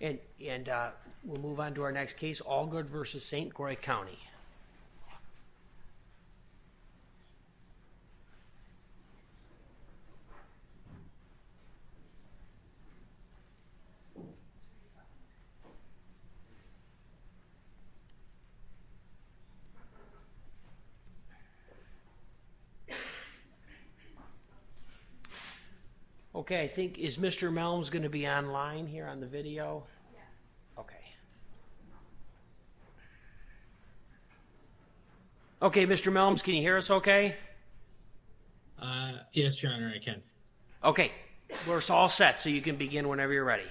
And and we'll move on to our next case Allgood v. St. Croix County Allgood v. St. Croix County, Wisconsin Okay, I think, is Mr. Melms going to be online here on the video? Okay, Mr. Melms, can you hear us okay? Yes, Your Honor, I can. Okay, we're all set, so you can begin whenever you're ready.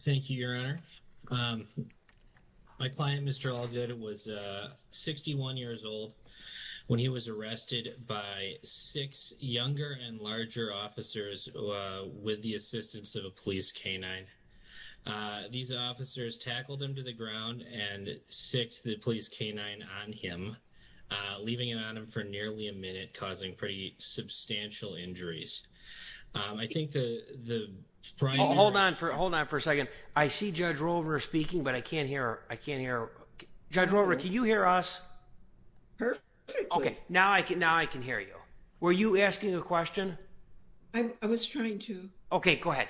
Thank you, Your Honor. My client, Mr. Allgood, was 61 years old when he was arrested by six younger and larger officers with the assistance of a police canine. These officers tackled him to the ground and sicked the police canine on him, leaving it on him for nearly a minute, causing pretty substantial injuries. I think the... Hold on for a second. I see Judge Rover speaking, but I can't hear her. Judge Rover, can you hear us? Perfectly. Okay, now I can hear you. Were you asking a question? I was trying to. Okay, go ahead.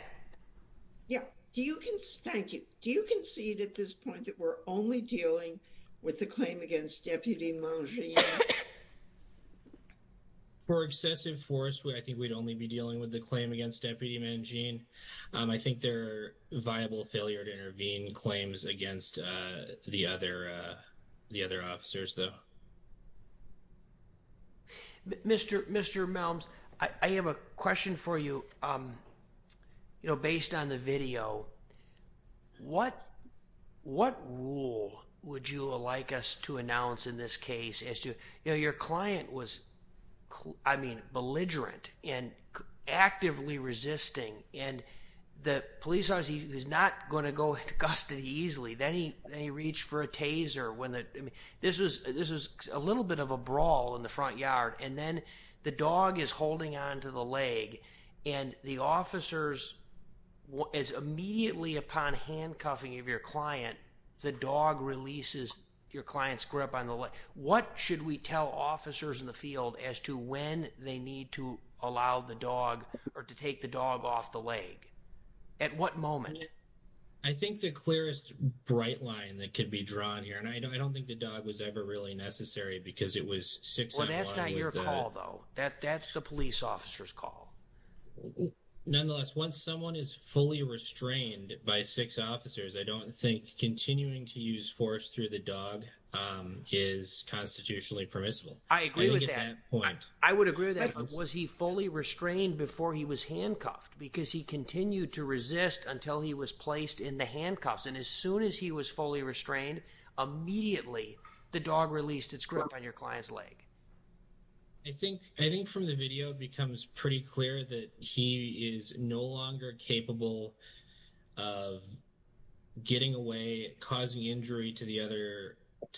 Thank you. Do you concede at this point that we're only dealing with the claim against Deputy Monge? For excessive force, I think we'd only be dealing with the claim against Deputy Monge. I think they're viable failure to intervene claims against the other officers, though. Mr. Melms, I have a question for you, you know, based on the video. What rule would you like us to announce in this case as to, you know, your client was, I mean, belligerent and actively resisting, and the police officer, he's not going to go into custody easily. Then he reached for a taser. This was a little bit of a brawl in the front yard, and then the dog is holding onto the leg, and the officers, as immediately upon handcuffing of your client, the dog releases your client's grip on the leg. What should we tell officers in the field as to when they need to allow the dog or to take the dog off the leg? At what moment? I think the clearest bright line that could be drawn here, and I don't think the dog was ever really necessary because it was six at one. Well, that's not your call, though. That's the police officer's call. Nonetheless, once someone is fully restrained by six officers, I don't think continuing to use force through the dog is constitutionally permissible. I agree with that. I would agree with that. Was he fully restrained before he was handcuffed? Because he continued to resist until he was placed in the handcuffs, and as soon as he was fully restrained, immediately the dog released its grip on your client's leg. I think from the video it becomes pretty clear that he is no longer capable of getting away, causing injury to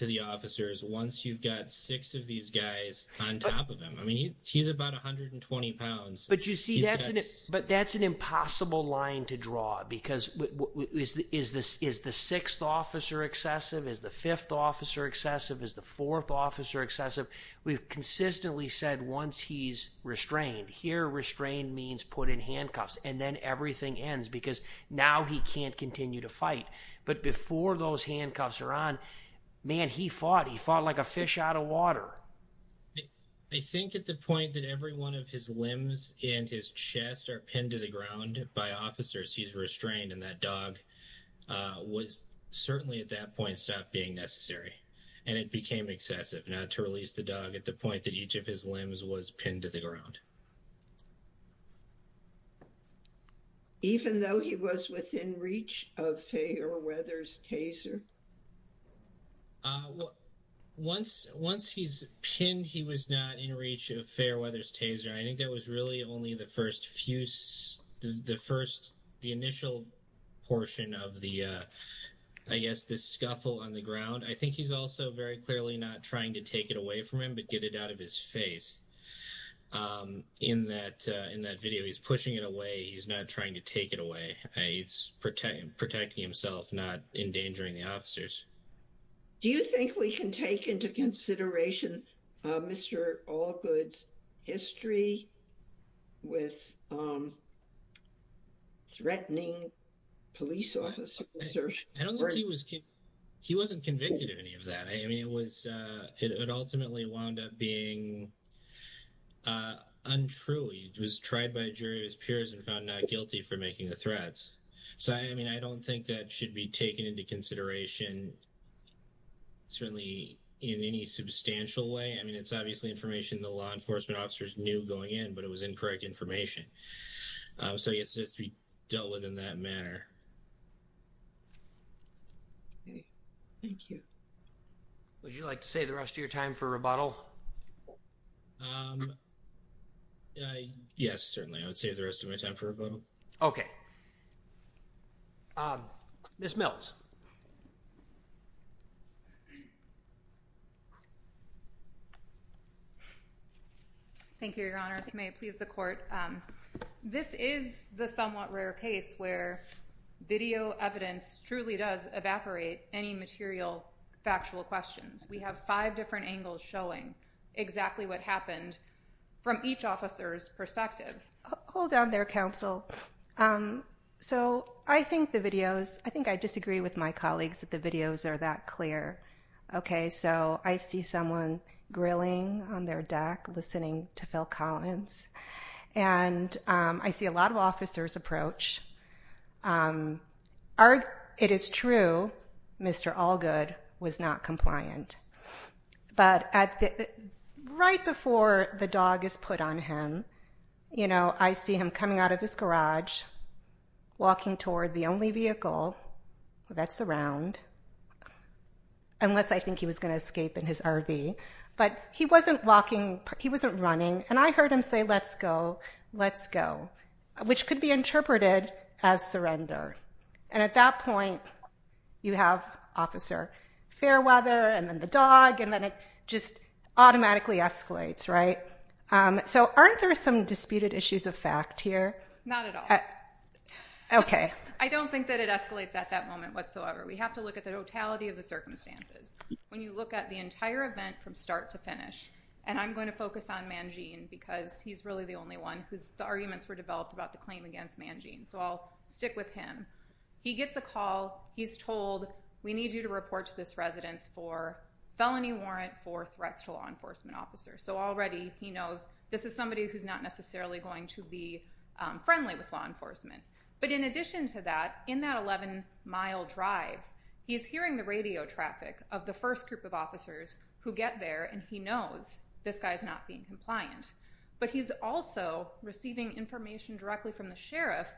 the officers, once you've got six of these guys on top of him. I mean, he's about 120 pounds. But you see, that's an impossible line to draw, because is the sixth officer excessive? Is the fifth officer excessive? Is the fourth officer excessive? We've consistently said once he's restrained. Here, restrained means put in handcuffs, and then everything ends, because now he can't continue to fight. But before those handcuffs are on, man, he fought. He fought like a fish out of water. I think at the point that every one of his limbs and his chest are pinned to the ground by officers, he's restrained, and that dog was certainly at that point stopped being necessary, and it became excessive. Not to release the dog at the point that each of his limbs was pinned to the ground. Even though he was within reach of Feyerweather's taser? Once he's pinned, he was not in reach of Feyerweather's taser. I think that was really only the first fuse, the initial portion of the, I guess, the scuffle on the ground. I think he's also very clearly not trying to take it away from him, but get it out of his face. In that video, he's pushing it away. He's not trying to take it away. He's protecting himself, not endangering the officers. Do you think we can take into consideration Mr. Allgood's history with threatening police officers? I don't think he was convicted of any of that. I mean, it ultimately wound up being untrue. He was tried by a jury of his peers and found not guilty for making the threats. So, I mean, I don't think that should be taken into consideration, certainly in any substantial way. I mean, it's obviously information the law enforcement officers knew going in, but it was incorrect information. So I guess it has to be dealt with in that manner. Thank you. Would you like to save the rest of your time for rebuttal? Yes, certainly. I would save the rest of my time for rebuttal. Ms. Mills. Thank you, Your Honor. If you may please the court. This is the somewhat rare case where video evidence truly does evaporate any material factual questions. We have five different angles showing exactly what happened from each officer's perspective. Hold on there, counsel. So I think the videos, I think I disagree with my colleagues that the videos are that clear. Okay, so I see someone grilling on their deck, listening to Phil Collins. And I see a lot of officers approach. It is true, Mr. Allgood was not compliant. But right before the dog is put on him, you know, I see him coming out of his garage, walking toward the only vehicle that's around, unless I think he was going to escape in his RV. But he wasn't walking, he wasn't running. And I heard him say, let's go, let's go, which could be interpreted as surrender. And at that point, you have Officer Fairweather, and then the dog, and then it just automatically escalates, right? So aren't there some disputed issues of fact here? Not at all. Okay. I don't think that it escalates at that moment whatsoever. We have to look at the totality of the circumstances. When you look at the entire event from start to finish, and I'm going to focus on Mangene, because he's really the only one whose arguments were developed about the claim against Mangene. So I'll stick with him. He gets a call, he's told, we need you to report to this residence for felony warrant for threats to a law enforcement officer. So already he knows this is somebody who's not necessarily going to be friendly with law enforcement. But in addition to that, in that 11-mile drive, he's hearing the radio traffic of the first group of officers who get there, and he knows this guy's not being compliant. But he's also receiving information directly from the sheriff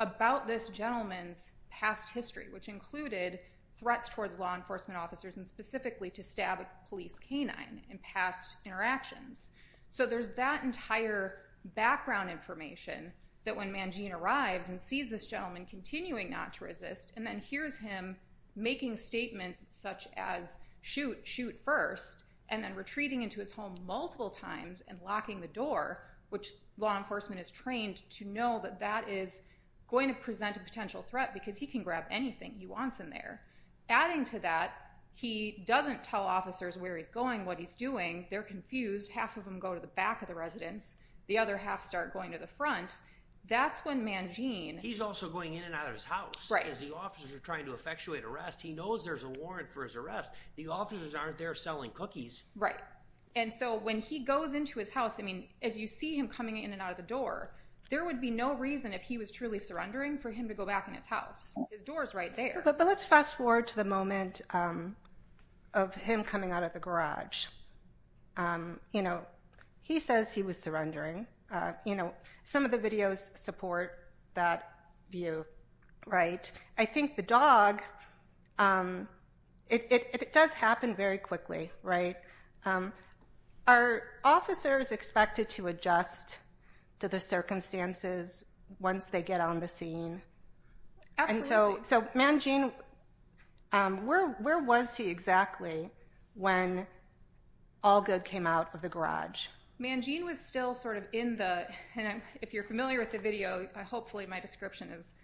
about this gentleman's past history, which included threats towards law enforcement officers, and specifically to stab a police canine in past interactions. So there's that entire background information that when Mangene arrives and sees this gentleman continuing not to resist, and then hears him making statements such as, shoot, shoot first, and then retreating into his home multiple times and locking the door, which law enforcement is trained to know that that is going to present a potential threat because he can grab anything he wants in there. Adding to that, he doesn't tell officers where he's going, what he's doing. They're confused. Half of them go to the back of the residence. The other half start going to the front. That's when Mangene... He's also going in and out of his house. As the officers are trying to effectuate arrest, he knows there's a warrant for his arrest. The officers aren't there selling cookies. Right. And so when he goes into his house, I mean, as you see him coming in and out of the door, there would be no reason if he was truly surrendering for him to go back in his house. His door's right there. But let's fast forward to the moment of him coming out of the garage. You know, he says he was surrendering. Some of the videos support that view, right? I think the dog... It does happen very quickly, right? Are officers expected to adjust to the circumstances once they get on the scene? Absolutely. And so Mangene, where was he exactly when Allgood came out of the garage? Mangene was still sort of in the... And if you're familiar with the video, hopefully my description is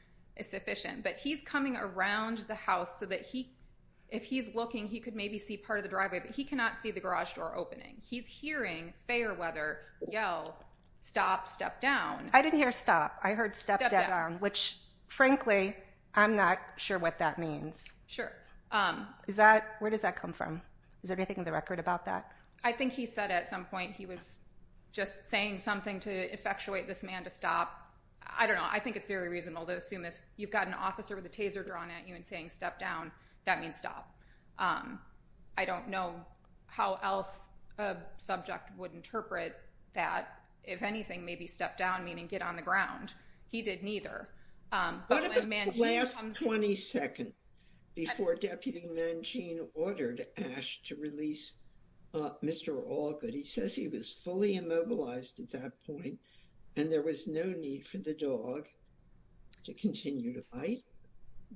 sufficient. But he's coming around the house so that if he's looking, he could maybe see part of the driveway, but he cannot see the garage door opening. He's hearing Fairweather yell, stop, step down. I didn't hear stop. I heard step down, which, frankly, I'm not sure what that means. Sure. Where does that come from? Is there anything in the record about that? I think he said at some point he was just saying something to effectuate this man to stop. I don't know. I think it's very reasonable to assume if you've got an officer with a taser drawn at you and saying step down, that means stop. I don't know how else a subject would interpret that. If anything, maybe step down, meaning get on the ground. He did neither. What about the last 20 seconds before Deputy Mangin ordered Ash to release Mr. Allgood? He says he was fully immobilized at that point and there was no need for the dog to continue to bite.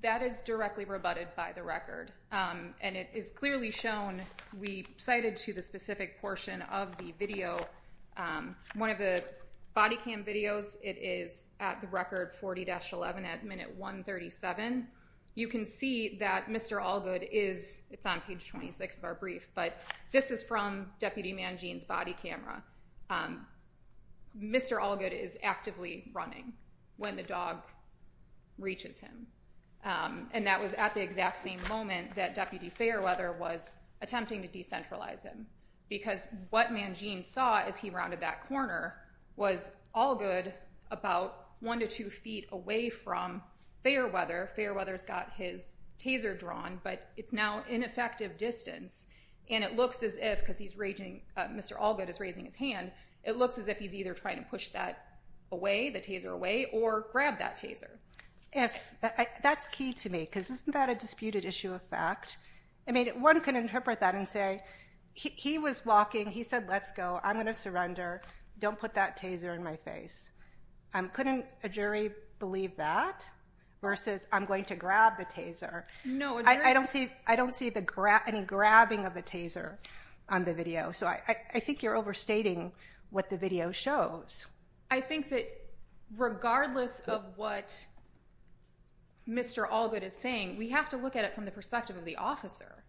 That is directly rebutted by the record. And it is clearly shown. We cited to the specific portion of the video. One of the body cam videos, it is at the record 40-11 at minute 137. You can see that Mr. Allgood is on page 26 of our brief. But this is from Deputy Mangin's body camera. Mr. Allgood is actively running when the dog reaches him. And that was at the exact same moment that Deputy Fairweather was attempting to decentralize him. Because what Mangin saw as he rounded that corner was Allgood about one to two feet away from Fairweather. Fairweather's got his taser drawn, but it's now ineffective distance. And it looks as if, because Mr. Allgood is raising his hand, it looks as if he's either trying to push that away, the taser away, or grab that taser. That's key to me, because isn't that a disputed issue of fact? One can interpret that and say, he was walking. He said, let's go. I'm going to surrender. Don't put that taser in my face. Couldn't a jury believe that versus I'm going to grab the taser? I don't see any grabbing of the taser on the video. So I think you're overstating what the video shows. I think that regardless of what Mr. Allgood is saying, we have to look at it from the perspective of the officer.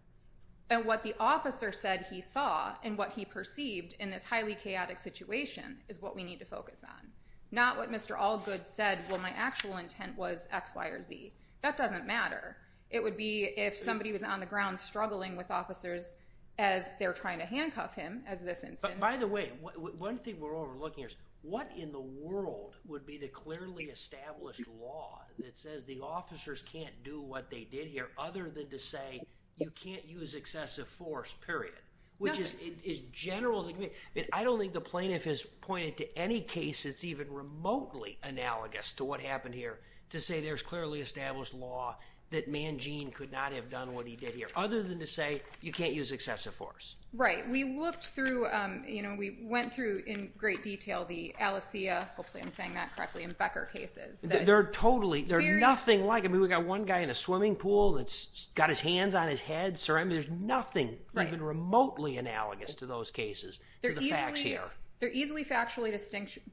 And what the officer said he saw and what he perceived in this highly chaotic situation is what we need to focus on. Not what Mr. Allgood said, well, my actual intent was X, Y, or Z. That doesn't matter. It would be if somebody was on the ground struggling with officers as they're trying to handcuff him, as this instance. And by the way, one thing we're overlooking is what in the world would be the clearly established law that says the officers can't do what they did here, other than to say you can't use excessive force, period? Which is as general as it can be. I don't think the plaintiff has pointed to any case that's even remotely analogous to what happened here to say there's clearly established law that Manjean could not have done what he did here, other than to say you can't use excessive force. Right. We looked through, you know, we went through in great detail the Alessia, hopefully I'm saying that correctly, and Becker cases. They're totally, they're nothing like, I mean, we've got one guy in a swimming pool that's got his hands on his head, surrounded, there's nothing even remotely analogous to those cases, to the facts here. They're easily factually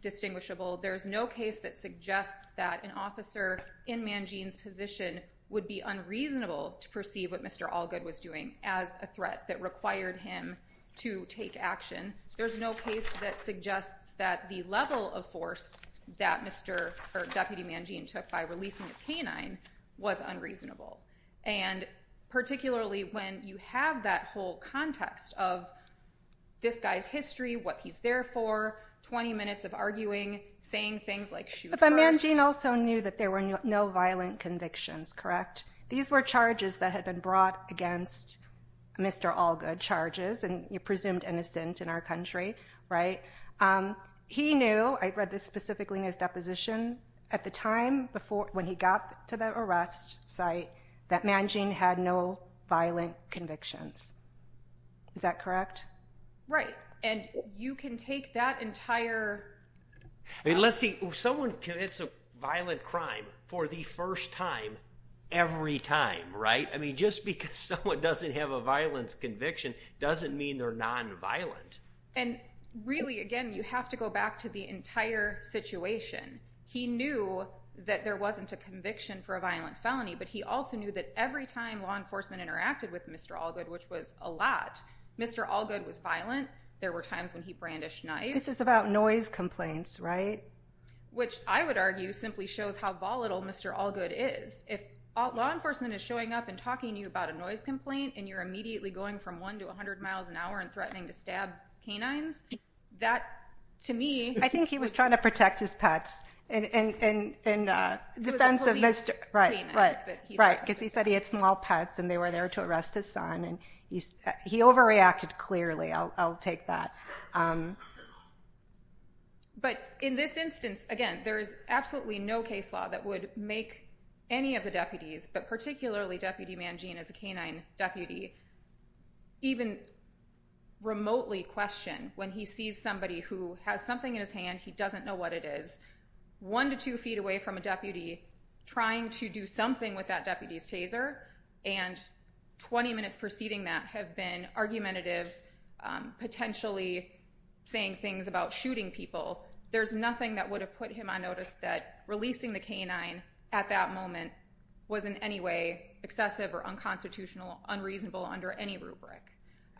distinguishable. There's no case that suggests that an officer in Manjean's position would be unreasonable to perceive what Mr. Allgood was doing as a threat that required him to take action. There's no case that suggests that the level of force that Mr. or Deputy Manjean took by releasing a canine was unreasonable. And particularly when you have that whole context of this guy's history, what he's there for, 20 minutes of arguing, saying things like shoot first. But Manjean also knew that there were no violent convictions, correct? These were charges that had been brought against Mr. Allgood, charges, and you presumed innocent in our country, right? He knew, I read this specifically in his deposition, at the time when he got to the arrest site, that Manjean had no violent convictions. Is that correct? Right, and you can take that entire... I mean, let's see, someone commits a violent crime for the first time every time, right? I mean, just because someone doesn't have a violent conviction doesn't mean they're non-violent. And really, again, you have to go back to the entire situation. He knew that there wasn't a conviction for a violent felony, but he also knew that every time law enforcement interacted with Mr. Allgood, which was a lot, Mr. Allgood was violent. There were times when he brandished knives. This is about noise complaints, right? Which I would argue simply shows how volatile Mr. Allgood is. If law enforcement is showing up and talking to you about a noise complaint, and you're immediately going from one to 100 miles an hour and threatening to stab canines, that, to me... I think he was trying to protect his pets in defense of Mr. Allgood. Right, because he said he had small pets and they were there to arrest his son, and he overreacted clearly. I'll take that. But in this instance, again, there is absolutely no case law that would make any of the deputies, but particularly Deputy Mangine as a canine deputy, even remotely question when he sees somebody who has something in his hand, he doesn't know what it is, one to two feet away from a deputy trying to do something with that deputy's taser, and 20 minutes preceding that have been argumentative, potentially saying things about shooting people. There's nothing that would have put him on notice that releasing the canine at that moment was in any way excessive or unconstitutional, unreasonable under any rubric.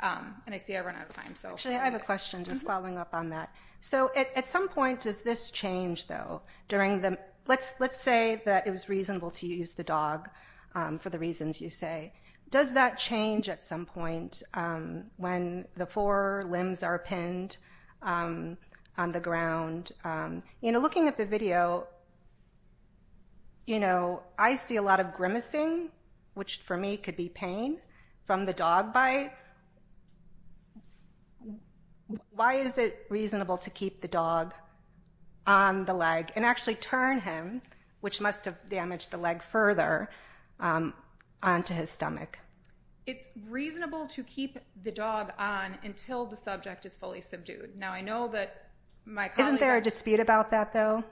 And I see I've run out of time. Actually, I have a question just following up on that. So at some point, does this change, though, during the... Let's say that it was reasonable to use the dog for the reasons you say. Does that change at some point when the four limbs are pinned on the ground? Looking at the video, I see a lot of grimacing, which for me could be pain, from the dog bite. Why is it reasonable to keep the dog on the leg and actually turn him, which must have damaged the leg further, onto his stomach? It's reasonable to keep the dog on until the subject is fully subdued. Now, I know that my colleague... Isn't there a dispute about that, though?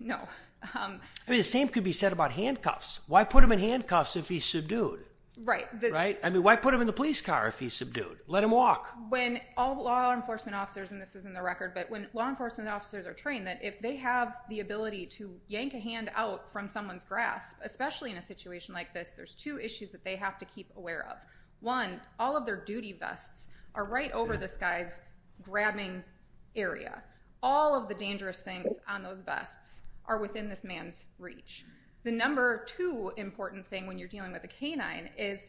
No. I mean, the same could be said about handcuffs. Why put him in handcuffs if he's subdued? Right. Right? I mean, why put him in the police car if he's subdued? Let him walk. When all law enforcement officers, and this is in the record, but when law enforcement officers are trained that if they have the ability to yank a hand out from someone's grasp, especially in a situation like this, there's two issues that they have to keep aware of. One, all of their duty vests are right over this guy's grabbing area. All of the dangerous things on those vests are within this man's reach. The number two important thing when you're dealing with a canine is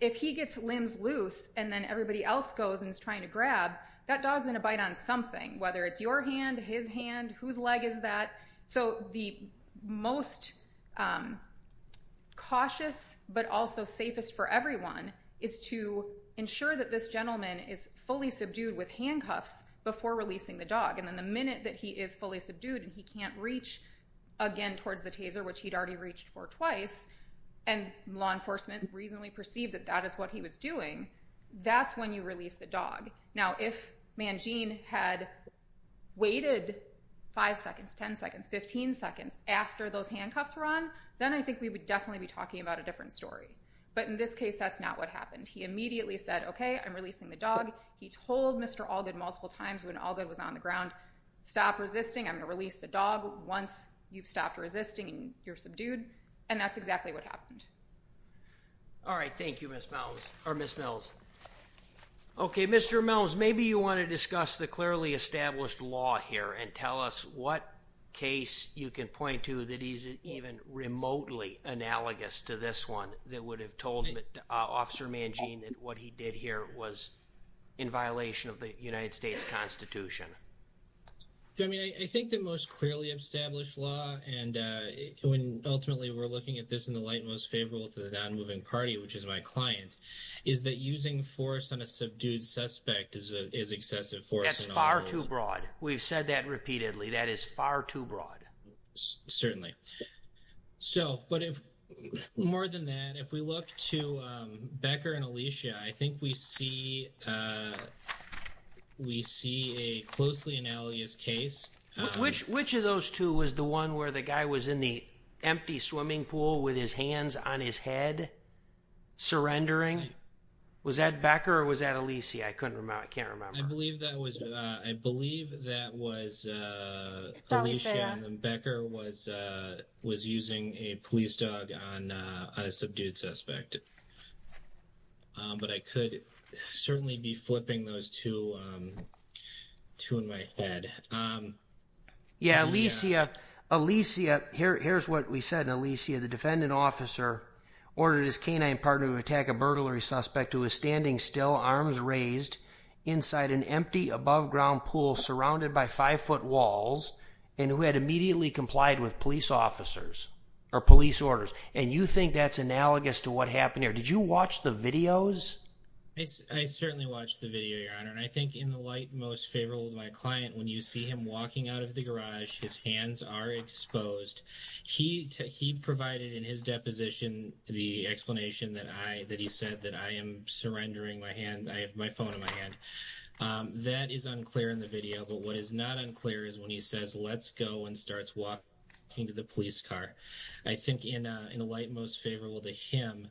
if he gets limbs loose and then everybody else goes and is trying to grab, that dog's going to bite on something, whether it's your hand, his hand, whose leg is that. So the most cautious but also safest for everyone is to ensure that this gentleman is fully subdued with handcuffs before releasing the dog. And then the minute that he is fully subdued and he can't reach again towards the taser, which he'd already reached for twice, and law enforcement reasonably perceived that that is what he was doing, that's when you release the dog. Now, if Mangene had waited five seconds, 10 seconds, 15 seconds after those handcuffs were on, then I think we would definitely be talking about a different story. But in this case, that's not what happened. He immediately said, okay, I'm releasing the dog. He told Mr. Allgood multiple times when Allgood was on the ground, stop resisting. I'm going to release the dog once you've stopped resisting and you're subdued. And that's exactly what happened. All right, thank you, Miss Mills. Okay, Mr. Mills, maybe you want to discuss the clearly established law here and tell us what case you can point to that isn't even remotely analogous to this one that would have told Officer Mangene that what he did here was in violation of the United States Constitution. I mean, I think the most clearly established law, and ultimately we're looking at this in the light most favorable to the non-moving party, which is my client, is that using force on a subdued suspect is excessive force. That's far too broad. We've said that repeatedly. That is far too broad. Certainly. So, but more than that, if we look to Becker and Alicia, I think we see a closely analogous case. Which of those two was the one where the guy was in the empty swimming pool with his hands on his head surrendering? Was that Becker or was that Alicia? I can't remember. I believe that was Alicia and Becker was using a police dog on a subdued suspect. But I could certainly be flipping those two in my head. Yeah, Alicia. Here's what we said in Alicia. The defendant officer ordered his canine partner to attack a burglary suspect who was standing still, arms raised, inside an empty above-ground pool surrounded by five-foot walls and who had immediately complied with police officers or police orders. And you think that's analogous to what happened here? Did you watch the videos? I certainly watched the video, Your Honor. And I think in the light most favorable to my client, when you see him walking out of the garage, his hands are exposed. He provided in his deposition the explanation that he said that I am surrendering my phone in my hand. That is unclear in the video. But what is not unclear is when he says, let's go and starts walking to the police car. I think in the light most favorable to him,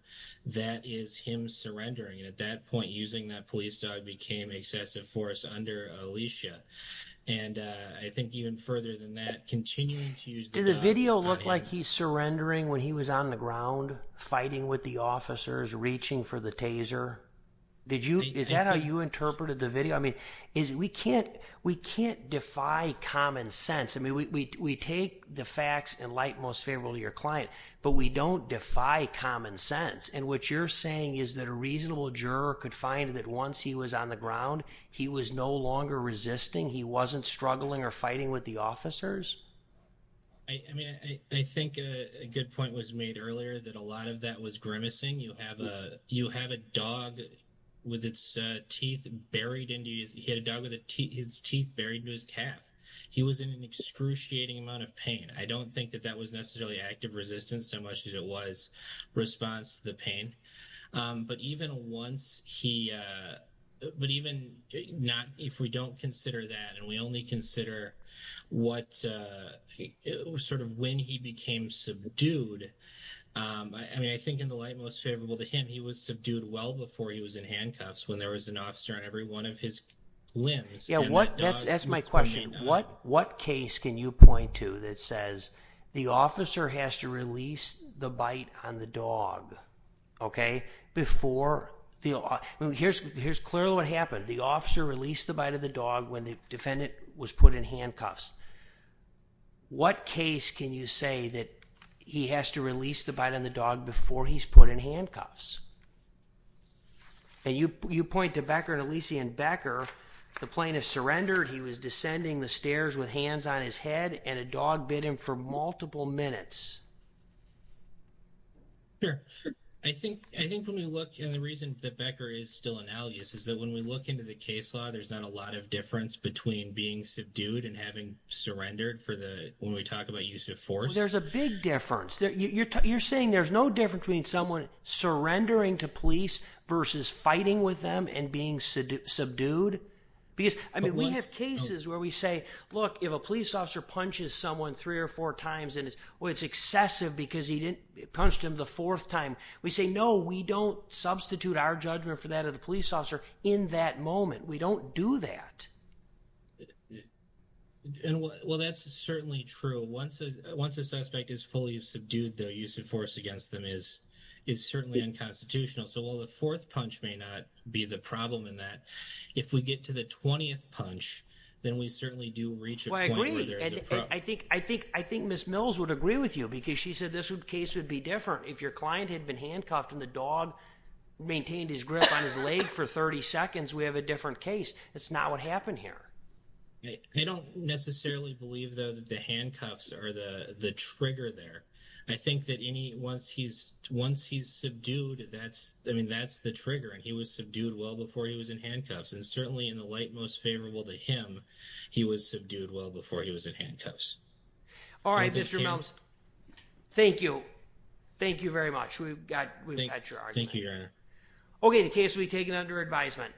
that is him surrendering. And at that point, using that police dog became excessive force under Alicia. And I think even further than that, continuing to use the dog. Did the video look like he's surrendering when he was on the ground fighting with the officers, reaching for the taser? Is that how you interpreted the video? I mean, we can't defy common sense. I mean, we take the facts in light most favorable to your client. But we don't defy common sense. And what you're saying is that a reasonable juror could find that once he was on the ground, he was no longer resisting. He wasn't struggling or fighting with the officers? I mean, I think a good point was made earlier that a lot of that was grimacing. You have a dog with its teeth buried into his calf. He was in an excruciating amount of pain. I don't think that that was necessarily active resistance so much as it was response to the pain. But even once he – but even not – if we don't consider that and we only consider what – sort of when he became subdued. I mean, I think in the light most favorable to him, he was subdued well before he was in handcuffs when there was an officer on every one of his limbs. That's my question. What case can you point to that says the officer has to release the bite on the dog before – here's clearly what happened. The officer released the bite of the dog when the defendant was put in handcuffs. What case can you say that he has to release the bite on the dog before he's put in handcuffs? And you point to Becker and Elyse and Becker. The plaintiff surrendered. He was descending the stairs with hands on his head and a dog bit him for multiple minutes. Sure. I think when we look – and the reason that Becker is still analogous is that when we look into the case law, there's not a lot of difference between being subdued and having surrendered for the – when we talk about use of force. There's a big difference. You're saying there's no difference between someone surrendering to police versus fighting with them and being subdued? Because, I mean, we have cases where we say, look, if a police officer punches someone three or four times and it's excessive because he punched him the fourth time, we say, no, we don't substitute our judgment for that of the police officer in that moment. We don't do that. Well, that's certainly true. Once a suspect is fully subdued, their use of force against them is certainly unconstitutional. So while the fourth punch may not be the problem in that, if we get to the 20th punch, then we certainly do reach a point where there's a problem. I think Ms. Mills would agree with you because she said this case would be different if your client had been handcuffed and the dog maintained his grip on his leg for 30 seconds. We have a different case. That's not what happened here. I don't necessarily believe, though, that the handcuffs are the trigger there. I think that once he's subdued, that's the trigger. He was subdued well before he was in handcuffs. And certainly in the light most favorable to him, he was subdued well before he was in handcuffs. All right, Mr. Mills. Thank you. Thank you very much. We've got your argument. Thank you, Your Honor. Okay, the case will be taken under advisement.